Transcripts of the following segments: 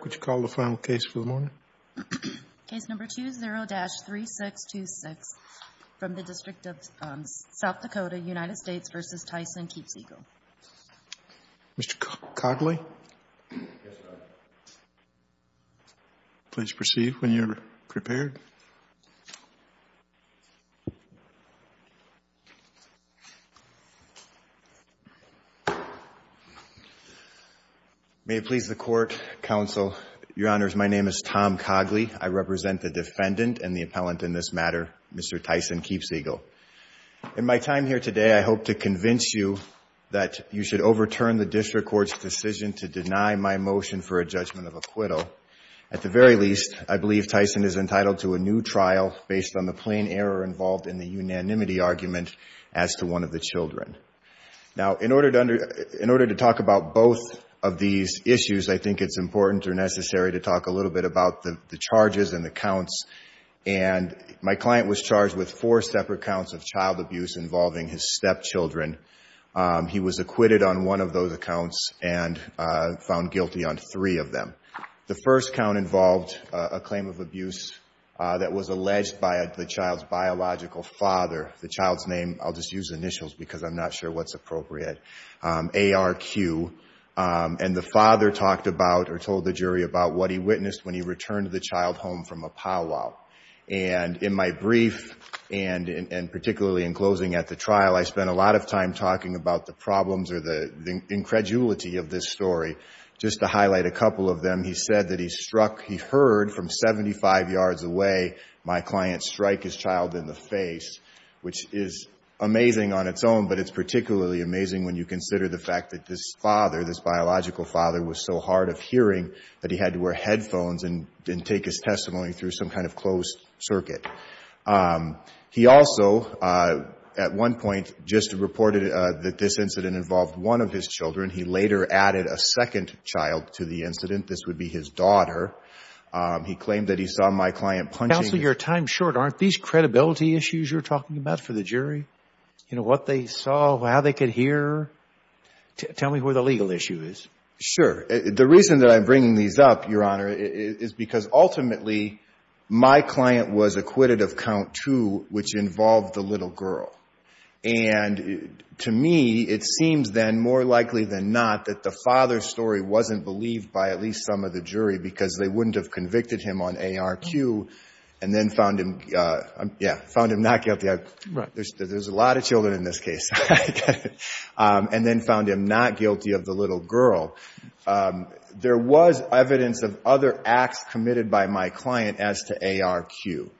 Mr. Cogley, please proceed when you're prepared. May it please the Court, Counsel, that the defendant, Mr. Cogley, has been found guilty of first-degree murder. Your Honors, my name is Tom Cogley. I represent the defendant and the appellant in this matter, Mr. Tyson Keepseagle. In my time here today, I hope to convince you that you should overturn the district court's decision to deny my motion for a judgment of acquittal. At the very least, I believe Tyson is entitled to a new trial based on the plain error involved in the unanimity argument as to one of the children. Now, in order to talk about both of these issues, I think it's important or necessary to talk a little bit about the charges and the counts. And my client was charged with four separate counts of child abuse involving his stepchildren. He was acquitted on one of those accounts and found guilty on three of them. The first count involved a claim of abuse that was alleged by the child's biological father. The child's name, I'll just use initials because I'm not sure what's appropriate, ARQ. And the father talked about or told the jury about what he witnessed when he returned the child home from a powwow. And in my brief, and particularly in closing at the trial, I spent a lot of time talking about the problems or the incredulity of this story. Just to highlight a couple of them, he said that he struck, he heard from 75 yards away my client strike his child in the face, which is amazing on its own, but it's particularly amazing when you consider the fact that this father, this biological father was so hard of hearing that he had to wear headphones and take his testimony through some kind of closed circuit. He also, at one point, just reported that this incident involved one of his children. He later added a second child to the incident. This would be his daughter. He claimed that he saw my client punching. Counsel, your time's short. Aren't these credibility issues you're talking about for the jury? You know, what they saw, how they could hear? Tell me where the legal issue is. Sure. The reason that I'm bringing these up, Your Honor, is because ultimately my client was acquitted of count two, which involved the little girl. And to me, it seems then more likely than not that the father's story wasn't believed by at least some of the jury because they wouldn't have convicted him on ARQ and then found him, yeah, found him not guilty. There's a lot of children in this case. And then found him not guilty of the little girl. There was evidence of other acts committed by my client as to ARQ.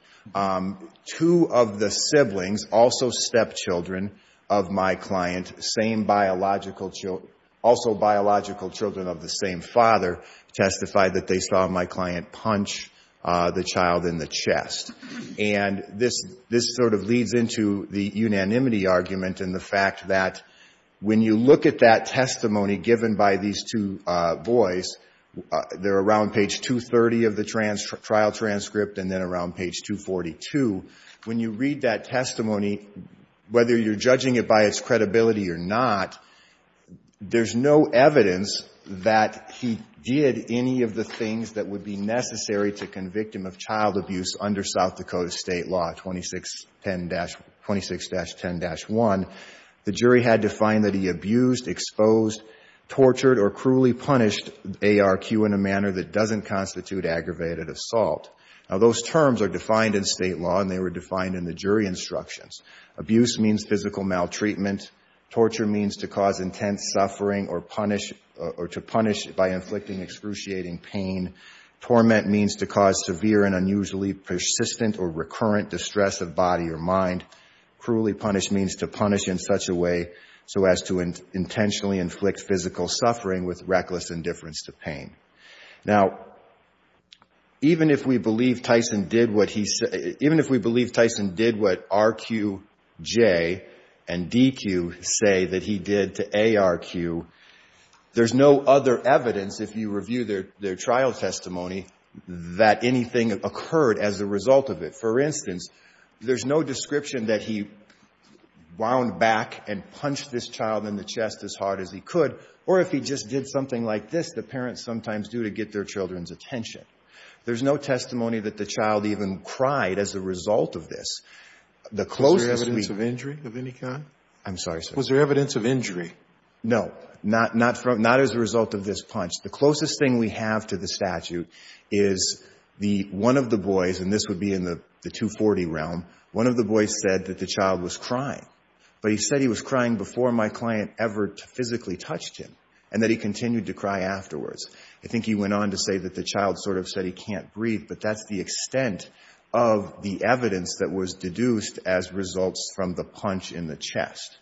Two of the siblings, also stepchildren of my client, also biological children of the same father, testified that they saw my client punch the child in the chest. And this sort of leads into the unanimity argument and the fact that when you look at that testimony given by these two boys, they're around page 230 of the trial transcript and then around page 242. When you read that testimony, whether you're judging it by its credibility or not, there's no evidence that he did any of the things that would be necessary to convict him of child abuse under South Dakota State Law 26-10-1. The jury had to find that he abused, exposed, tortured or cruelly punished ARQ in a manner that doesn't constitute aggravated assault. Now, those terms are defined in State law and they were defined in the jury instructions. Abuse means physical maltreatment. Torture means to cause intense suffering or punish or to punish by inflicting excruciating pain. Torment means to cause severe and unusually persistent or recurrent distress of body or mind. Cruelly punish means to punish in such a way so as to intentionally inflict physical suffering with reckless indifference to pain. Now, even if we believe Tyson did what RQJ and DQ say that he did to ARQ, there's no other evidence if you review their trial testimony that anything occurred as a result of it. For instance, there's no description that he wound back and punched this child in the chest as hard as he could. Or if he just did something like this, the parents sometimes do to get their children's attention. There's no testimony that the child even cried as a result of this. The closest we can be to this. Scalia. Was there evidence of injury of any kind? I'm sorry, sir. Was there evidence of injury? No. Not as a result of this punch. The closest thing we have to the statute is the one of the boys, and this would be in the 240 realm, one of the boys said that the child was crying. But he said he was crying before my client ever physically touched him and that he continued to cry afterwards. I think he went on to say that the child sort of said he can't breathe, but that's the extent of the evidence that was deduced as results from the punch in the chest.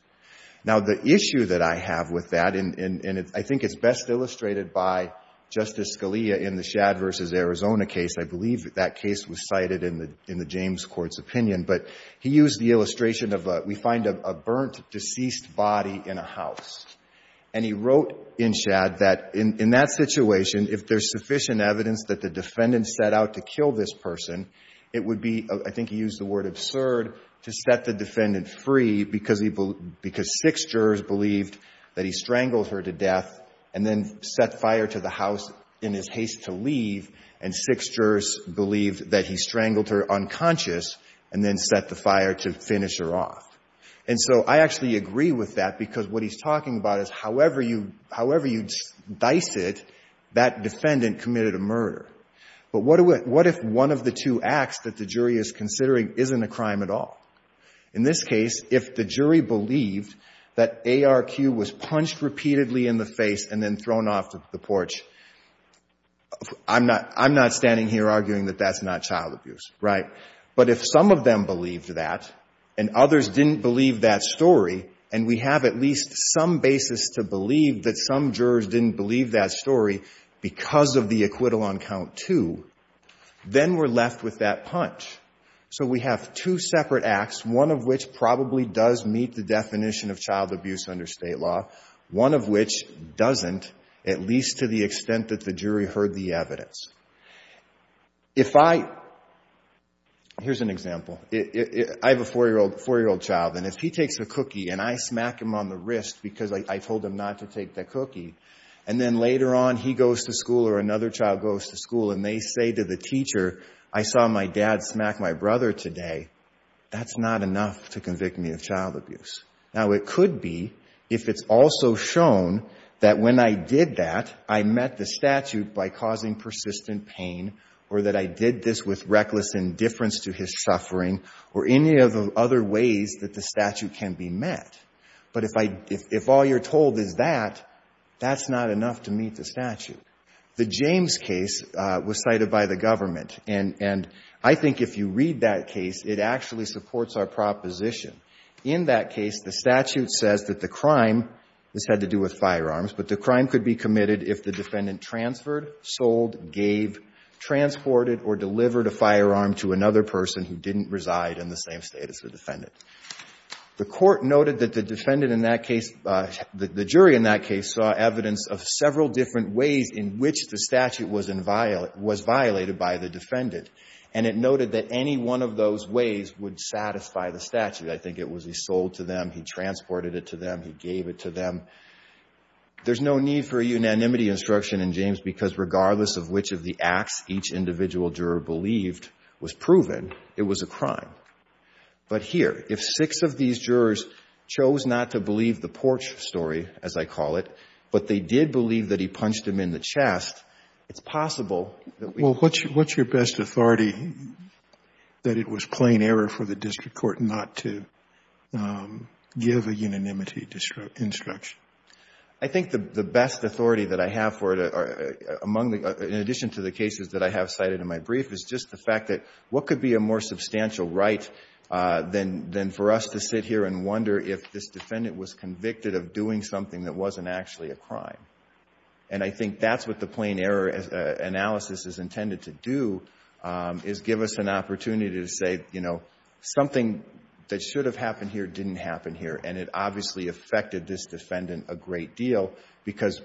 Now, the issue that I have with that, and I think it's best illustrated by Justice Scalia in the Shad v. Arizona case. I believe that case was cited in the James Court's opinion. But he used the illustration of we find a burnt, deceased body in a house. And he wrote in Shad that in that situation, if there's sufficient evidence that the defendant set out to kill this person, I think he used the word absurd to set the defendant free because six jurors believed that he strangled her to death and then set fire to the house in his haste to leave, and six jurors believed that he strangled her unconscious and then set the fire to finish her off. And so I actually agree with that because what he's talking about is however you dice it, that defendant committed a murder. But what if one of the two acts that the jury is considering isn't a crime at all? In this case, if the jury believed that ARQ was punched repeatedly in the face and then thrown off the porch, I'm not standing here arguing that that's not child abuse, right? But if some of them believed that and others didn't believe that story, and we have at least some basis to believe that some jurors didn't believe that story because of the acquittal on count two, then we're left with that punch. So we have two separate acts, one of which probably does meet the definition of child abuse under State law, one of which doesn't, at least to the extent that the jury heard the evidence. If I — here's an example. I have a 4-year-old child, and if he takes a cookie and I smack him on the wrist because I told him not to take the cookie, and then later on he goes to school or another child goes to school and they say to the teacher, I saw my dad smack my brother today, that's not enough to convict me of child abuse. Now, it could be if it's also shown that when I did that, I met the statute by causing persistent pain or that I did this with reckless indifference to his suffering or any of the other ways that the statute can be met. But if all you're told is that, that's not enough to meet the statute. The James case was cited by the government, and I think if you read that case, it actually supports our proposition. In that case, the statute says that the crime, this had to do with firearms, but the crime could be committed if the defendant transferred, sold, gave, transported, or delivered a firearm to another person who didn't reside in the same state as the defendant. The court noted that the defendant in that case, the jury in that case, saw evidence of several different ways in which the statute was violated by the defendant. And it noted that any one of those ways would satisfy the statute. I think it was he sold to them, he transported it to them, he gave it to them. There's no need for a unanimity instruction in James because regardless of which of the acts each individual juror believed was proven, it was a crime. But here, if six of these jurors chose not to believe the porch story, as I call it, but they did believe that he punched him in the chest, it's possible that we can't. It's a plain error for the district court not to give a unanimity instruction. I think the best authority that I have for it, in addition to the cases that I have cited in my brief, is just the fact that what could be a more substantial right than for us to sit here and wonder if this defendant was convicted of doing something that wasn't actually a crime. And I think that's what the plain error analysis is intended to do is give us an opportunity to say, you know, something that should have happened here didn't happen here, and it obviously affected this defendant a great deal because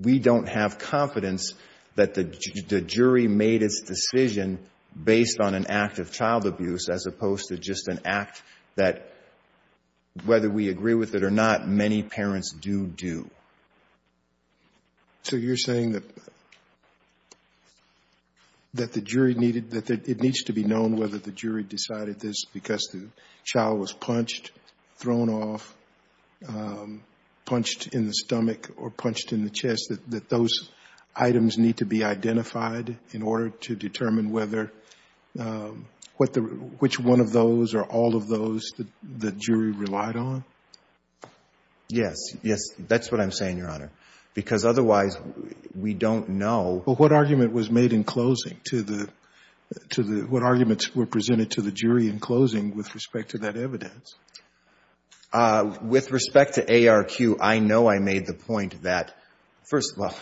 we don't have confidence that the jury made its decision based on an act of child abuse as opposed to just an act that, whether we agree with it or not, many parents do do. So you're saying that the jury needed, that it needs to be known whether the jury decided this because the child was punched, thrown off, punched in the stomach or punched in the chest, that those items need to be identified in order to determine whether, which one of those are all of those that the jury relied on? Yes. Yes, that's what I'm saying, Your Honor, because otherwise we don't know. But what argument was made in closing to the, what arguments were presented to the jury in closing with respect to that evidence? With respect to ARQ, I know I made the point that, first of all,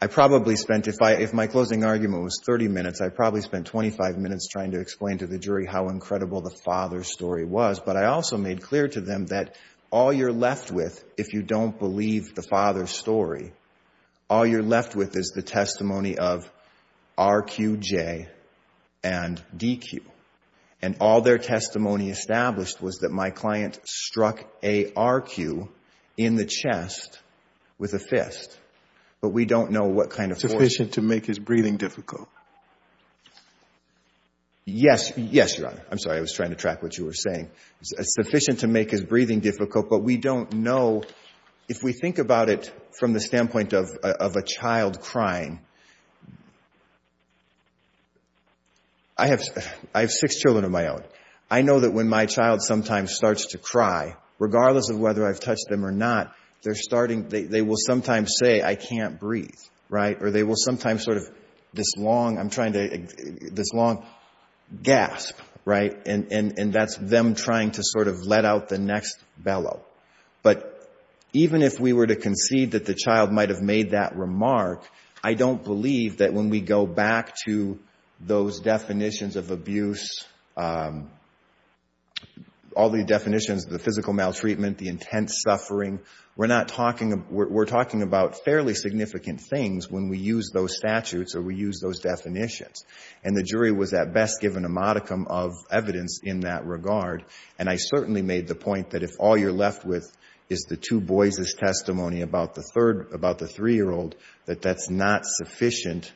I probably spent, if my closing argument was 30 minutes, I probably spent 25 minutes trying to explain to the jury how incredible the father's story was. But I also made clear to them that all you're left with, if you don't believe the father's story, all you're left with is the testimony of RQJ and DQ. And all their testimony established was that my client struck ARQ in the chest with a fist. But we don't know what kind of force. Sufficient to make his breathing difficult. Yes. Yes, Your Honor. I'm sorry, I was trying to track what you were saying. Sufficient to make his breathing difficult, but we don't know. If we think about it from the standpoint of a child crying, I have six children of my own. But I know that when my child sometimes starts to cry, regardless of whether I've touched them or not, they're starting, they will sometimes say, I can't breathe, right? Or they will sometimes sort of, this long, I'm trying to, this long gasp, right? And that's them trying to sort of let out the next bellow. But even if we were to concede that the child might have made that remark, I don't believe that when we go back to those definitions of abuse, all the definitions of the physical maltreatment, the intense suffering, we're talking about fairly significant things when we use those statutes or we use those definitions. And the jury was at best given a modicum of evidence in that regard. And I certainly made the point that if all you're left with is the two boys' testimony about the third, about the three-year-old, that that's not sufficient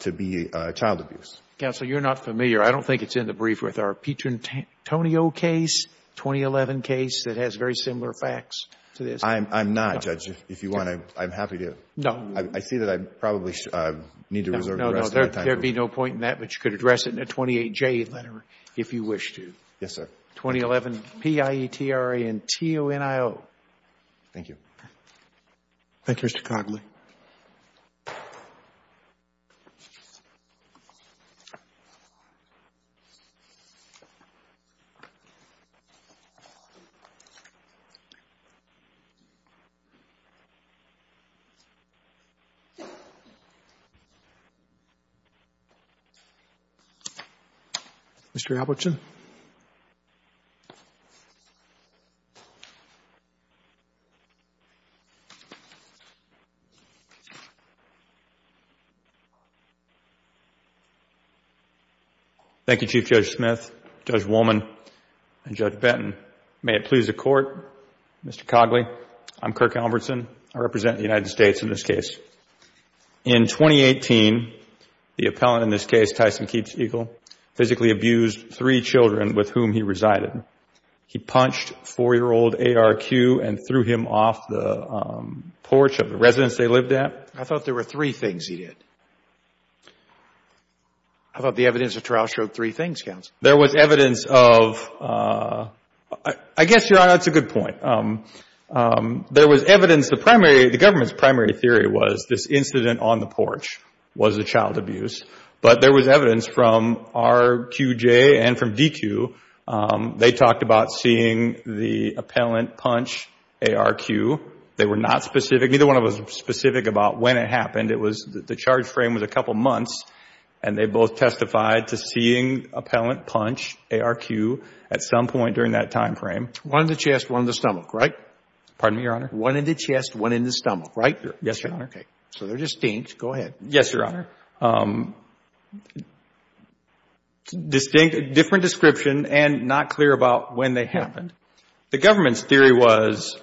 to be child abuse. Counsel, you're not familiar. I don't think it's in the brief with our Petrantonio case, 2011 case that has very similar facts to this. I'm not, Judge. If you want to, I'm happy to. No. I see that I probably need to reserve the rest of my time. No, no. There would be no point in that, but you could address it in a 28J letter if you wish to. Yes, sir. 2011, P-I-E-T-R-A-N-T-O-N-I-O. Thank you. Thank you, Mr. Cognley. Mr. Albertson. Thank you, Chief Judge Smith, Judge Wollman, and Judge Benton. May it please the Court, Mr. Cognley, I'm Kirk Albertson. I represent the United States in this case. In 2018, the appellant in this case, Tyson Keats Eagle, physically abused three children with whom he resided. He punched four-year-old A.R.Q. and threw him off the porch of the residence they lived at. I thought there were three things he did. I thought the evidence at trial showed three things, Counsel. There was evidence of, I guess, Your Honor, that's a good point. There was evidence. The government's primary theory was this incident on the porch was a child abuse. But there was evidence from RQJ and from DQ. They talked about seeing the appellant punch A.R.Q. They were not specific. Neither one of them was specific about when it happened. The charge frame was a couple months, and they both testified to seeing appellant punch A.R.Q. at some point during that time frame. One in the chest, one in the stomach, right? Pardon me, Your Honor? One in the chest, one in the stomach, right? Yes, Your Honor. Okay. So they're distinct. Go ahead. Yes, Your Honor. Different description and not clear about when they happened. The government's theory was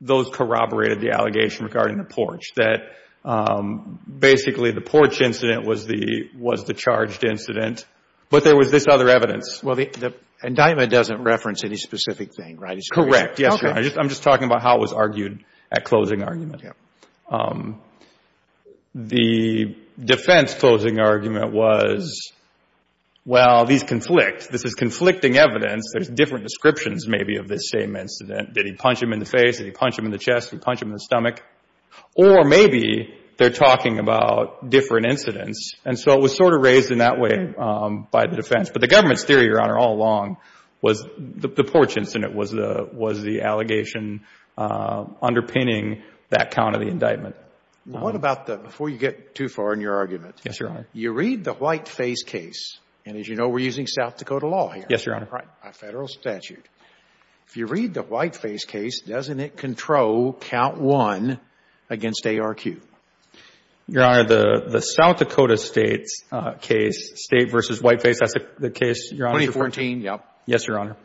those corroborated the allegation regarding the porch, that basically the porch incident was the charged incident. But there was this other evidence. Well, the indictment doesn't reference any specific thing, right? Correct. Yes, Your Honor. I'm just talking about how it was argued at closing argument. The defense closing argument was, well, these conflict. This is conflicting evidence. There's different descriptions maybe of this same incident. Did he punch him in the face? Did he punch him in the chest? Did he punch him in the stomach? Or maybe they're talking about different incidents. And so it was sort of raised in that way by the defense. But the government's theory, Your Honor, all along was the porch incident was the allegation underpinning that count of the indictment. What about the, before you get too far in your argument. Yes, Your Honor. You read the Whiteface case. And as you know, we're using South Dakota law here. Yes, Your Honor. By federal statute. If you read the Whiteface case, doesn't it control count one against ARQ? Your Honor, the South Dakota state's case, state versus Whiteface, that's the case, Your Honor. 2014, yep. Yes, Your Honor.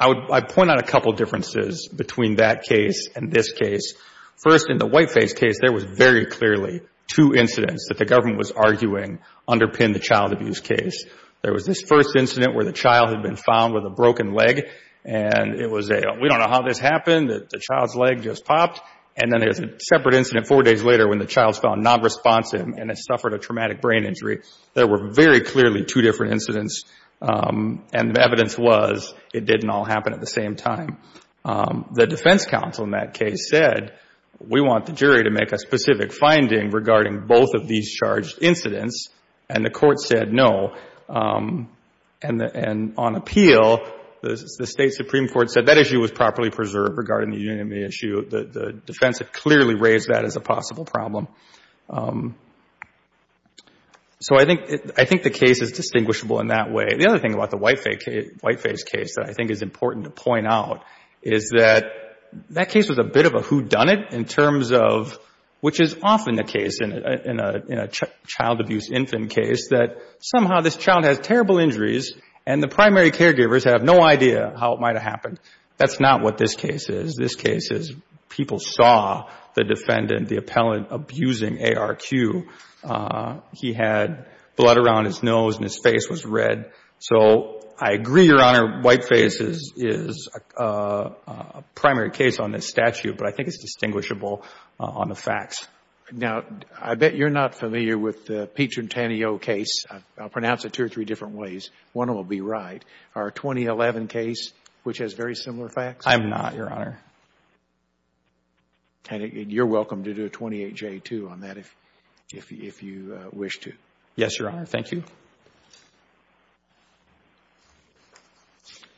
I point out a couple differences between that case and this case. First, in the Whiteface case, there was very clearly two incidents that the government was arguing underpinned the child abuse case. There was this first incident where the child had been found with a broken leg. And it was a, we don't know how this happened. The child's leg just popped. And then there's a separate incident four days later when the child's found nonresponsive and has suffered a traumatic brain injury. There were very clearly two different incidents. And the evidence was it didn't all happen at the same time. The defense counsel in that case said we want the jury to make a specific finding regarding both of these charged incidents. And the court said no. And on appeal, the state Supreme Court said that issue was properly preserved regarding the union issue. The defense had clearly raised that as a possible problem. So I think the case is distinguishable in that way. The other thing about the Whiteface case that I think is important to point out is that that case was a bit of a whodunit in terms of, which is often the case in a child abuse infant case, that somehow this child has terrible injuries and the primary caregivers have no idea how it might have happened. That's not what this case is. This case is people saw the defendant, the appellant, abusing ARQ. He had blood around his nose and his face was red. So I agree, Your Honor, Whiteface is a primary case on this statute, but I think it's distinguishable on the facts. Now, I bet you're not familiar with the Picentennial case. I'll pronounce it two or three different ways. One will be right. Our 2011 case, which has very similar facts? I'm not, Your Honor. And you're welcome to do a 28-J, too, on that if you wish to. Yes, Your Honor. Thank you.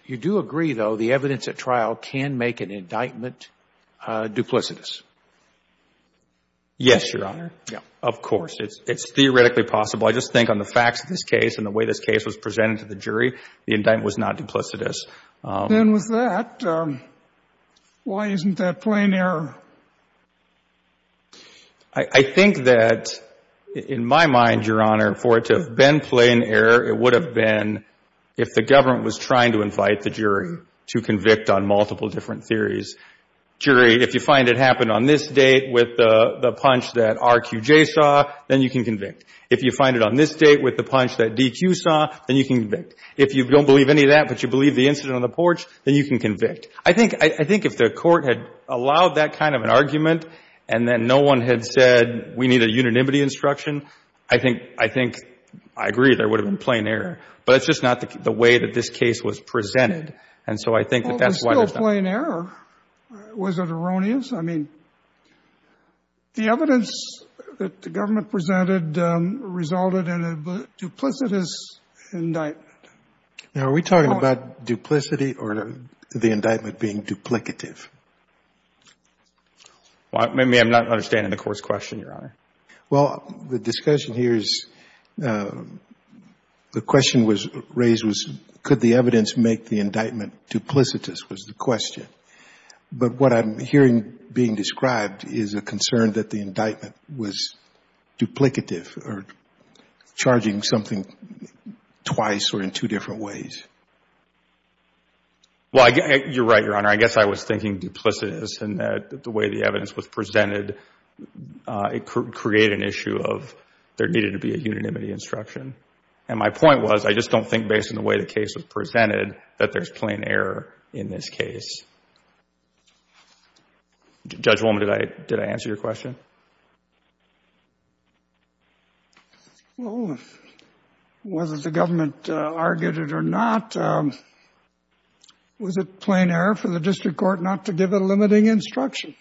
You do agree, though, the evidence at trial can make an indictment duplicitous? Yes, Your Honor. Of course. It's theoretically possible. I just think on the facts of this case and the way this case was presented to the jury, the indictment was not duplicitous. Then with that, why isn't that plain error? I think that, in my mind, Your Honor, for it to have been plain error, it would have been if the government was trying to invite the jury to convict on multiple different theories. Jury, if you find it happened on this date with the punch that RQJ saw, then you can convict. If you find it on this date with the punch that DQ saw, then you can convict. If you don't believe any of that, but you believe the incident on the porch, then you can convict. I think if the Court had allowed that kind of an argument and then no one had said we need a unanimity instruction, I think I agree there would have been plain error. But it's just not the way that this case was presented. And so I think that that's why there's not. Well, there's still plain error. Was it erroneous? I mean, the evidence that the government presented resulted in a duplicitous indictment. Now, are we talking about duplicity or the indictment being duplicative? Maybe I'm not understanding the Court's question, Your Honor. Well, the discussion here is the question was raised was could the evidence make the indictment duplicitous was the question. But what I'm hearing being described is a concern that the indictment was duplicative or charging something twice or in two different ways. Well, you're right, Your Honor. I guess I was thinking duplicitous in that the way the evidence was presented, it created an issue of there needed to be a unanimity instruction. And my point was I just don't think based on the way the case was presented that there's plain error in this case. Judge Loma, did I answer your question? Well, whether the government argued it or not, was it plain error for the district court not to give a limiting instruction?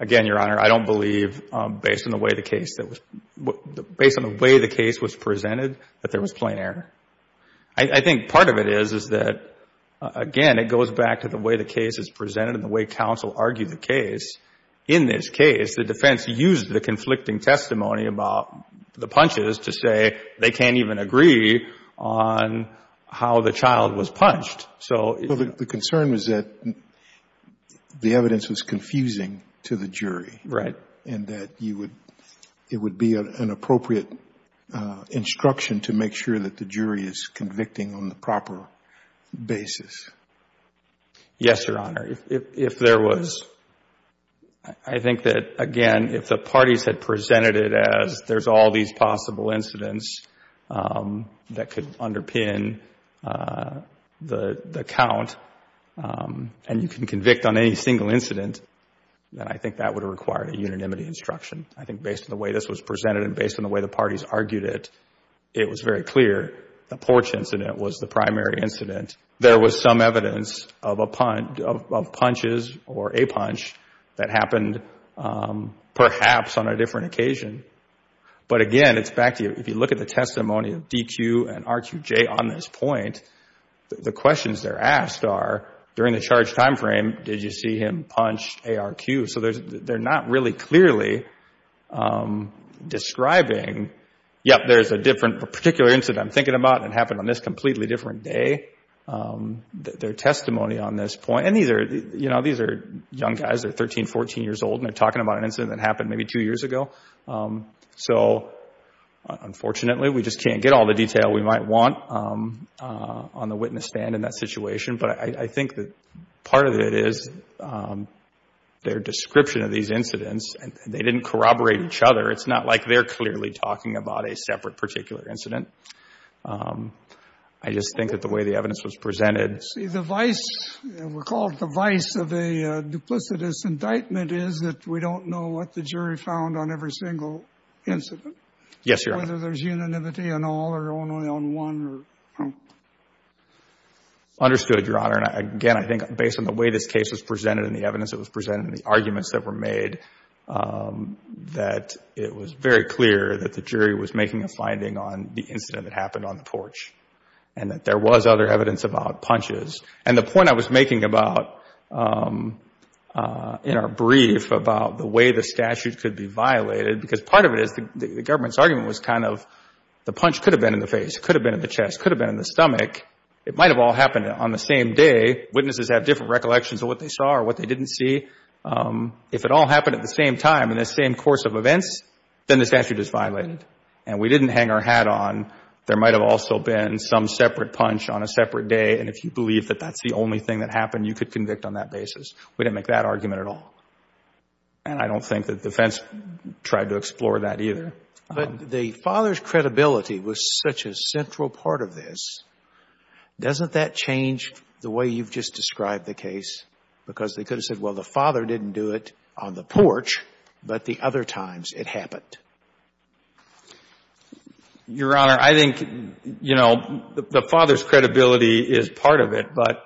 Again, Your Honor, I don't believe based on the way the case was presented that there was plain error. I think part of it is, is that, again, it goes back to the way the case is presented and the way counsel argued the case. In this case, the defense used the conflicting testimony about the punches to say they can't even agree on how the child was punched. So the concern was that the evidence was confusing to the jury. Right. And that you would, it would be an appropriate instruction to make sure that the jury is convicting on the proper basis. Yes, Your Honor. If there was, I think that, again, if the parties had presented it as there's all these possible incidents that could underpin the count and you can convict on any single incident, then I think that would require a unanimity instruction. I think based on the way this was presented and based on the way the parties argued it, it was very clear the porch incident was the primary incident. There was some evidence of punches or a punch that happened, perhaps, on a different occasion. But, again, it's back to if you look at the testimony of DQ and RQJ on this point, the questions they're asked are, during the charged time frame, did you see him punch ARQ? So they're not really clearly describing, yep, there's a different particular incident I'm thinking about and it happened on this completely different day. Their testimony on this point, and these are, you know, these are young guys. They're 13, 14 years old and they're talking about an incident that happened maybe two years ago. So, unfortunately, we just can't get all the detail we might want on the witness stand in that situation. But I think that part of it is their description of these incidents. They didn't corroborate each other. It's not like they're clearly talking about a separate particular incident. I just think that the way the evidence was presented. See, the vice, we'll call it the vice of a duplicitous indictment is that we don't know what the jury found on every single incident. Yes, Your Honor. Whether there's unanimity in all or only on one. Understood, Your Honor. And, again, I think based on the way this case was presented and the evidence that was presented and the arguments that were made, that it was very clear that the jury was making a finding on the incident that happened on the porch and that there was other evidence about punches. And the point I was making about, in our brief, about the way the statute could be violated, because part of it is the government's argument was kind of the punch could have been in the face, could have been in the chest, could have been in the stomach. It might have all happened on the same day. Witnesses have different recollections of what they saw or what they didn't see. If it all happened at the same time, in the same course of events, then the statute is violated. And we didn't hang our hat on. There might have also been some separate punch on a separate day, and if you believe that that's the only thing that happened, you could convict on that basis. We didn't make that argument at all. And I don't think that the defense tried to explore that either. But the father's credibility was such a central part of this. Doesn't that change the way you've just described the case? Because they could have said, well, the father didn't do it on the porch, but the other times it happened. Your Honor, I think, you know, the father's credibility is part of it, but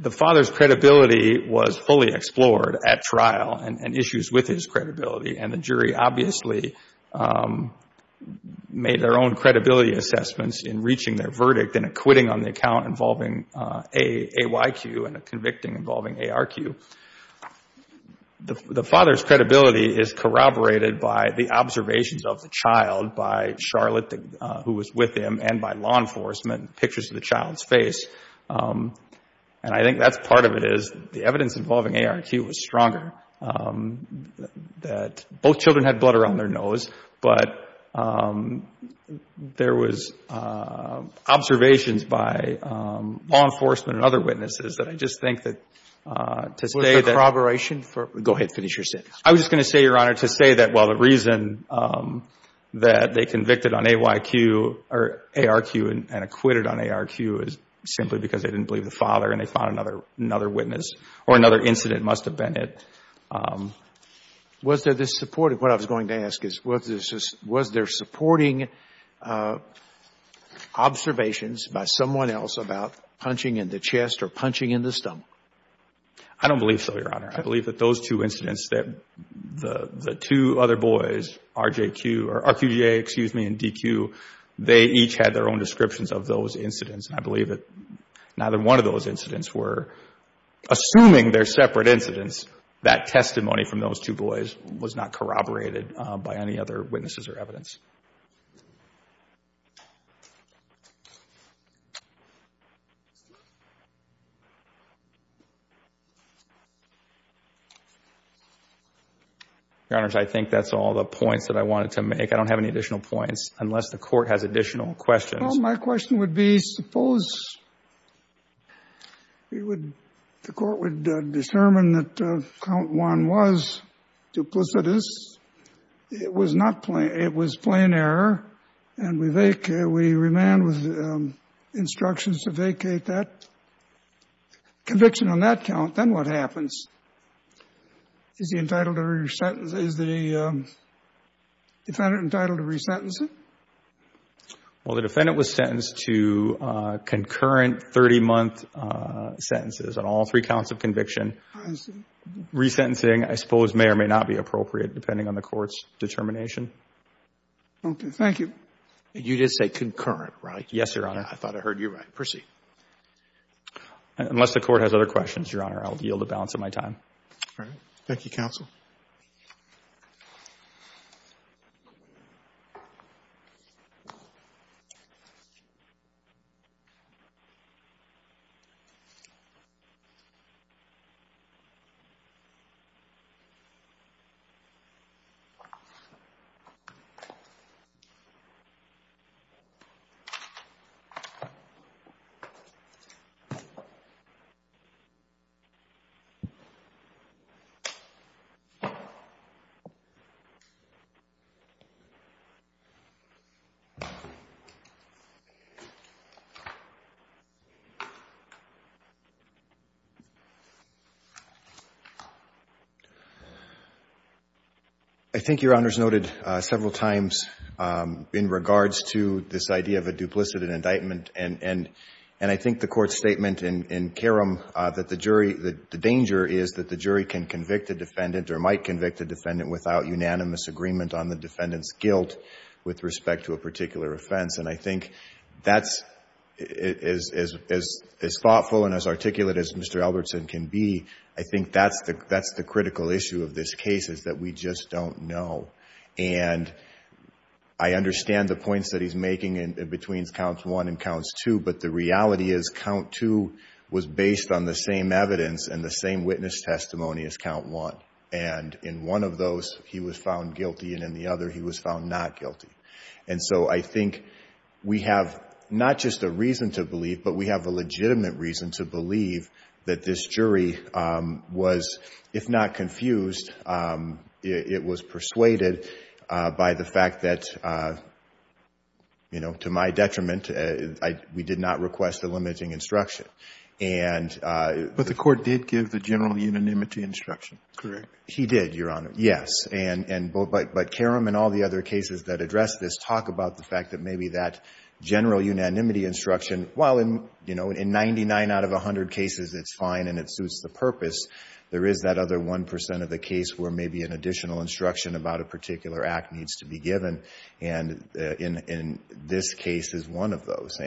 the father's credibility was fully explored at trial and issues with his credibility. And the jury obviously made their own credibility assessments in reaching their verdict in a quitting on the account involving AYQ and a convicting involving ARQ. The father's credibility is corroborated by the observations of the child, by Charlotte, who was with him, and by law enforcement, pictures of the child's face. And I think that's part of it is the evidence involving ARQ was stronger, that both children had blood around their nose, but there was observations by law enforcement and other witnesses that I just think that to say that. Was there corroboration for? Go ahead. Finish your sentence. I was just going to say, Your Honor, to say that, well, the reason that they convicted on AYQ or ARQ and acquitted on ARQ is simply because they didn't believe the father and they found another witness or another incident must have been it. Was there this support? What I was going to ask is was there supporting observations by someone else about punching in the chest or punching in the stomach? I don't believe so, Your Honor. I believe that those two incidents that the two other boys, RQJ and DQ, they each had their own descriptions of those incidents. And I believe that neither one of those incidents were, assuming they're separate incidents, that testimony from those two boys was not corroborated by any other witnesses or evidence. Your Honors, I think that's all the points that I wanted to make. I don't have any additional points unless the Court has additional questions. Well, my question would be, suppose we would, the Court would determine that count one was duplicitous, it was not plain, it was plain error, and we vacate, we remand with instructions to vacate that conviction on that count, then what happens? Is the entitled to re-sentence, is the defendant entitled to re-sentence it? Well, the defendant was sentenced to concurrent 30-month sentences on all three counts of conviction. I see. Re-sentencing, I suppose, may or may not be appropriate depending on the Court's determination. Okay. Thank you. You did say concurrent, right? Yes, Your Honor. I thought I heard you right. Proceed. Unless the Court has other questions, Your Honor, I'll yield the balance of my time. All right. Thank you, Counsel. Thank you. I think Your Honor's noted several times in regards to this idea of a duplicit indictment, and I think the Court's statement in Kerram that the jury, the danger is that the jury can convict a defendant or might convict a defendant without unanimous agreement on the defendant's guilt with respect to a particular offense, and I think that's, as thoughtful and as articulate as Mr. Albertson can be, I think that's the critical issue of this case is that we just don't know. And I understand the points that he's making between counts one and counts two, but the reality is count two was based on the same evidence and the same witness testimony as count one. And in one of those, he was found guilty, and in the other, he was found not guilty. And so I think we have not just a reason to believe, but we have a legitimate reason to believe that this jury was, if not confused, it was persuaded by the jury to not request a limiting instruction. And the Court did give the general unanimity instruction. He did, Your Honor. Yes. But Kerram and all the other cases that address this talk about the fact that maybe that general unanimity instruction, while in 99 out of 100 cases it's fine and it suits the purpose, there is that other 1 percent of the case where maybe an additional instruction about a particular act needs to be given, and this case is one of those.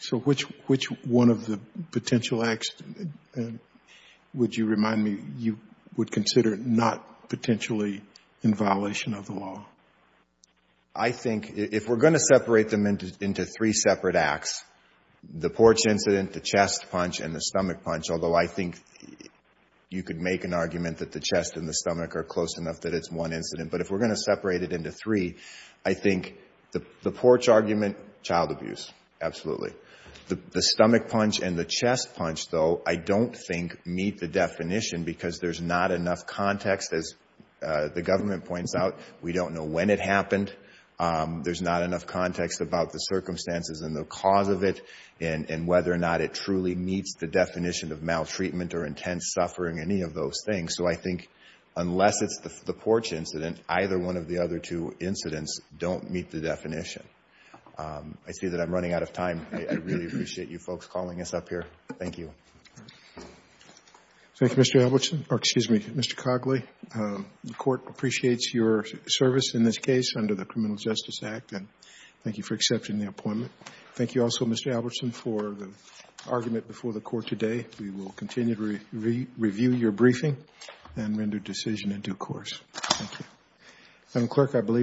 So which one of the potential acts would you remind me you would consider not potentially in violation of the law? I think if we're going to separate them into three separate acts, the porch incident, the chest punch, and the stomach punch, although I think you could make an argument that the chest and the stomach are close enough that it's one incident, but if we're going to separate it into three, I think the porch argument, child abuse, absolutely. The stomach punch and the chest punch, though, I don't think meet the definition because there's not enough context. As the government points out, we don't know when it happened. There's not enough context about the circumstances and the cause of it and whether or not it truly meets the definition of maltreatment or intense suffering, any of those things. So I think unless it's the porch incident, either one of the other two incidents don't meet the definition. I see that I'm running out of time. I really appreciate you folks calling us up here. Thank you. Thank you, Mr. Albertson, or excuse me, Mr. Cogley. The court appreciates your service in this case under the Criminal Justice Act and thank you for accepting the appointment. Thank you also, Mr. Albertson, for the argument before the court today. We will continue to review your briefing and render decision in due course. Thank you. I'm quick, I believe.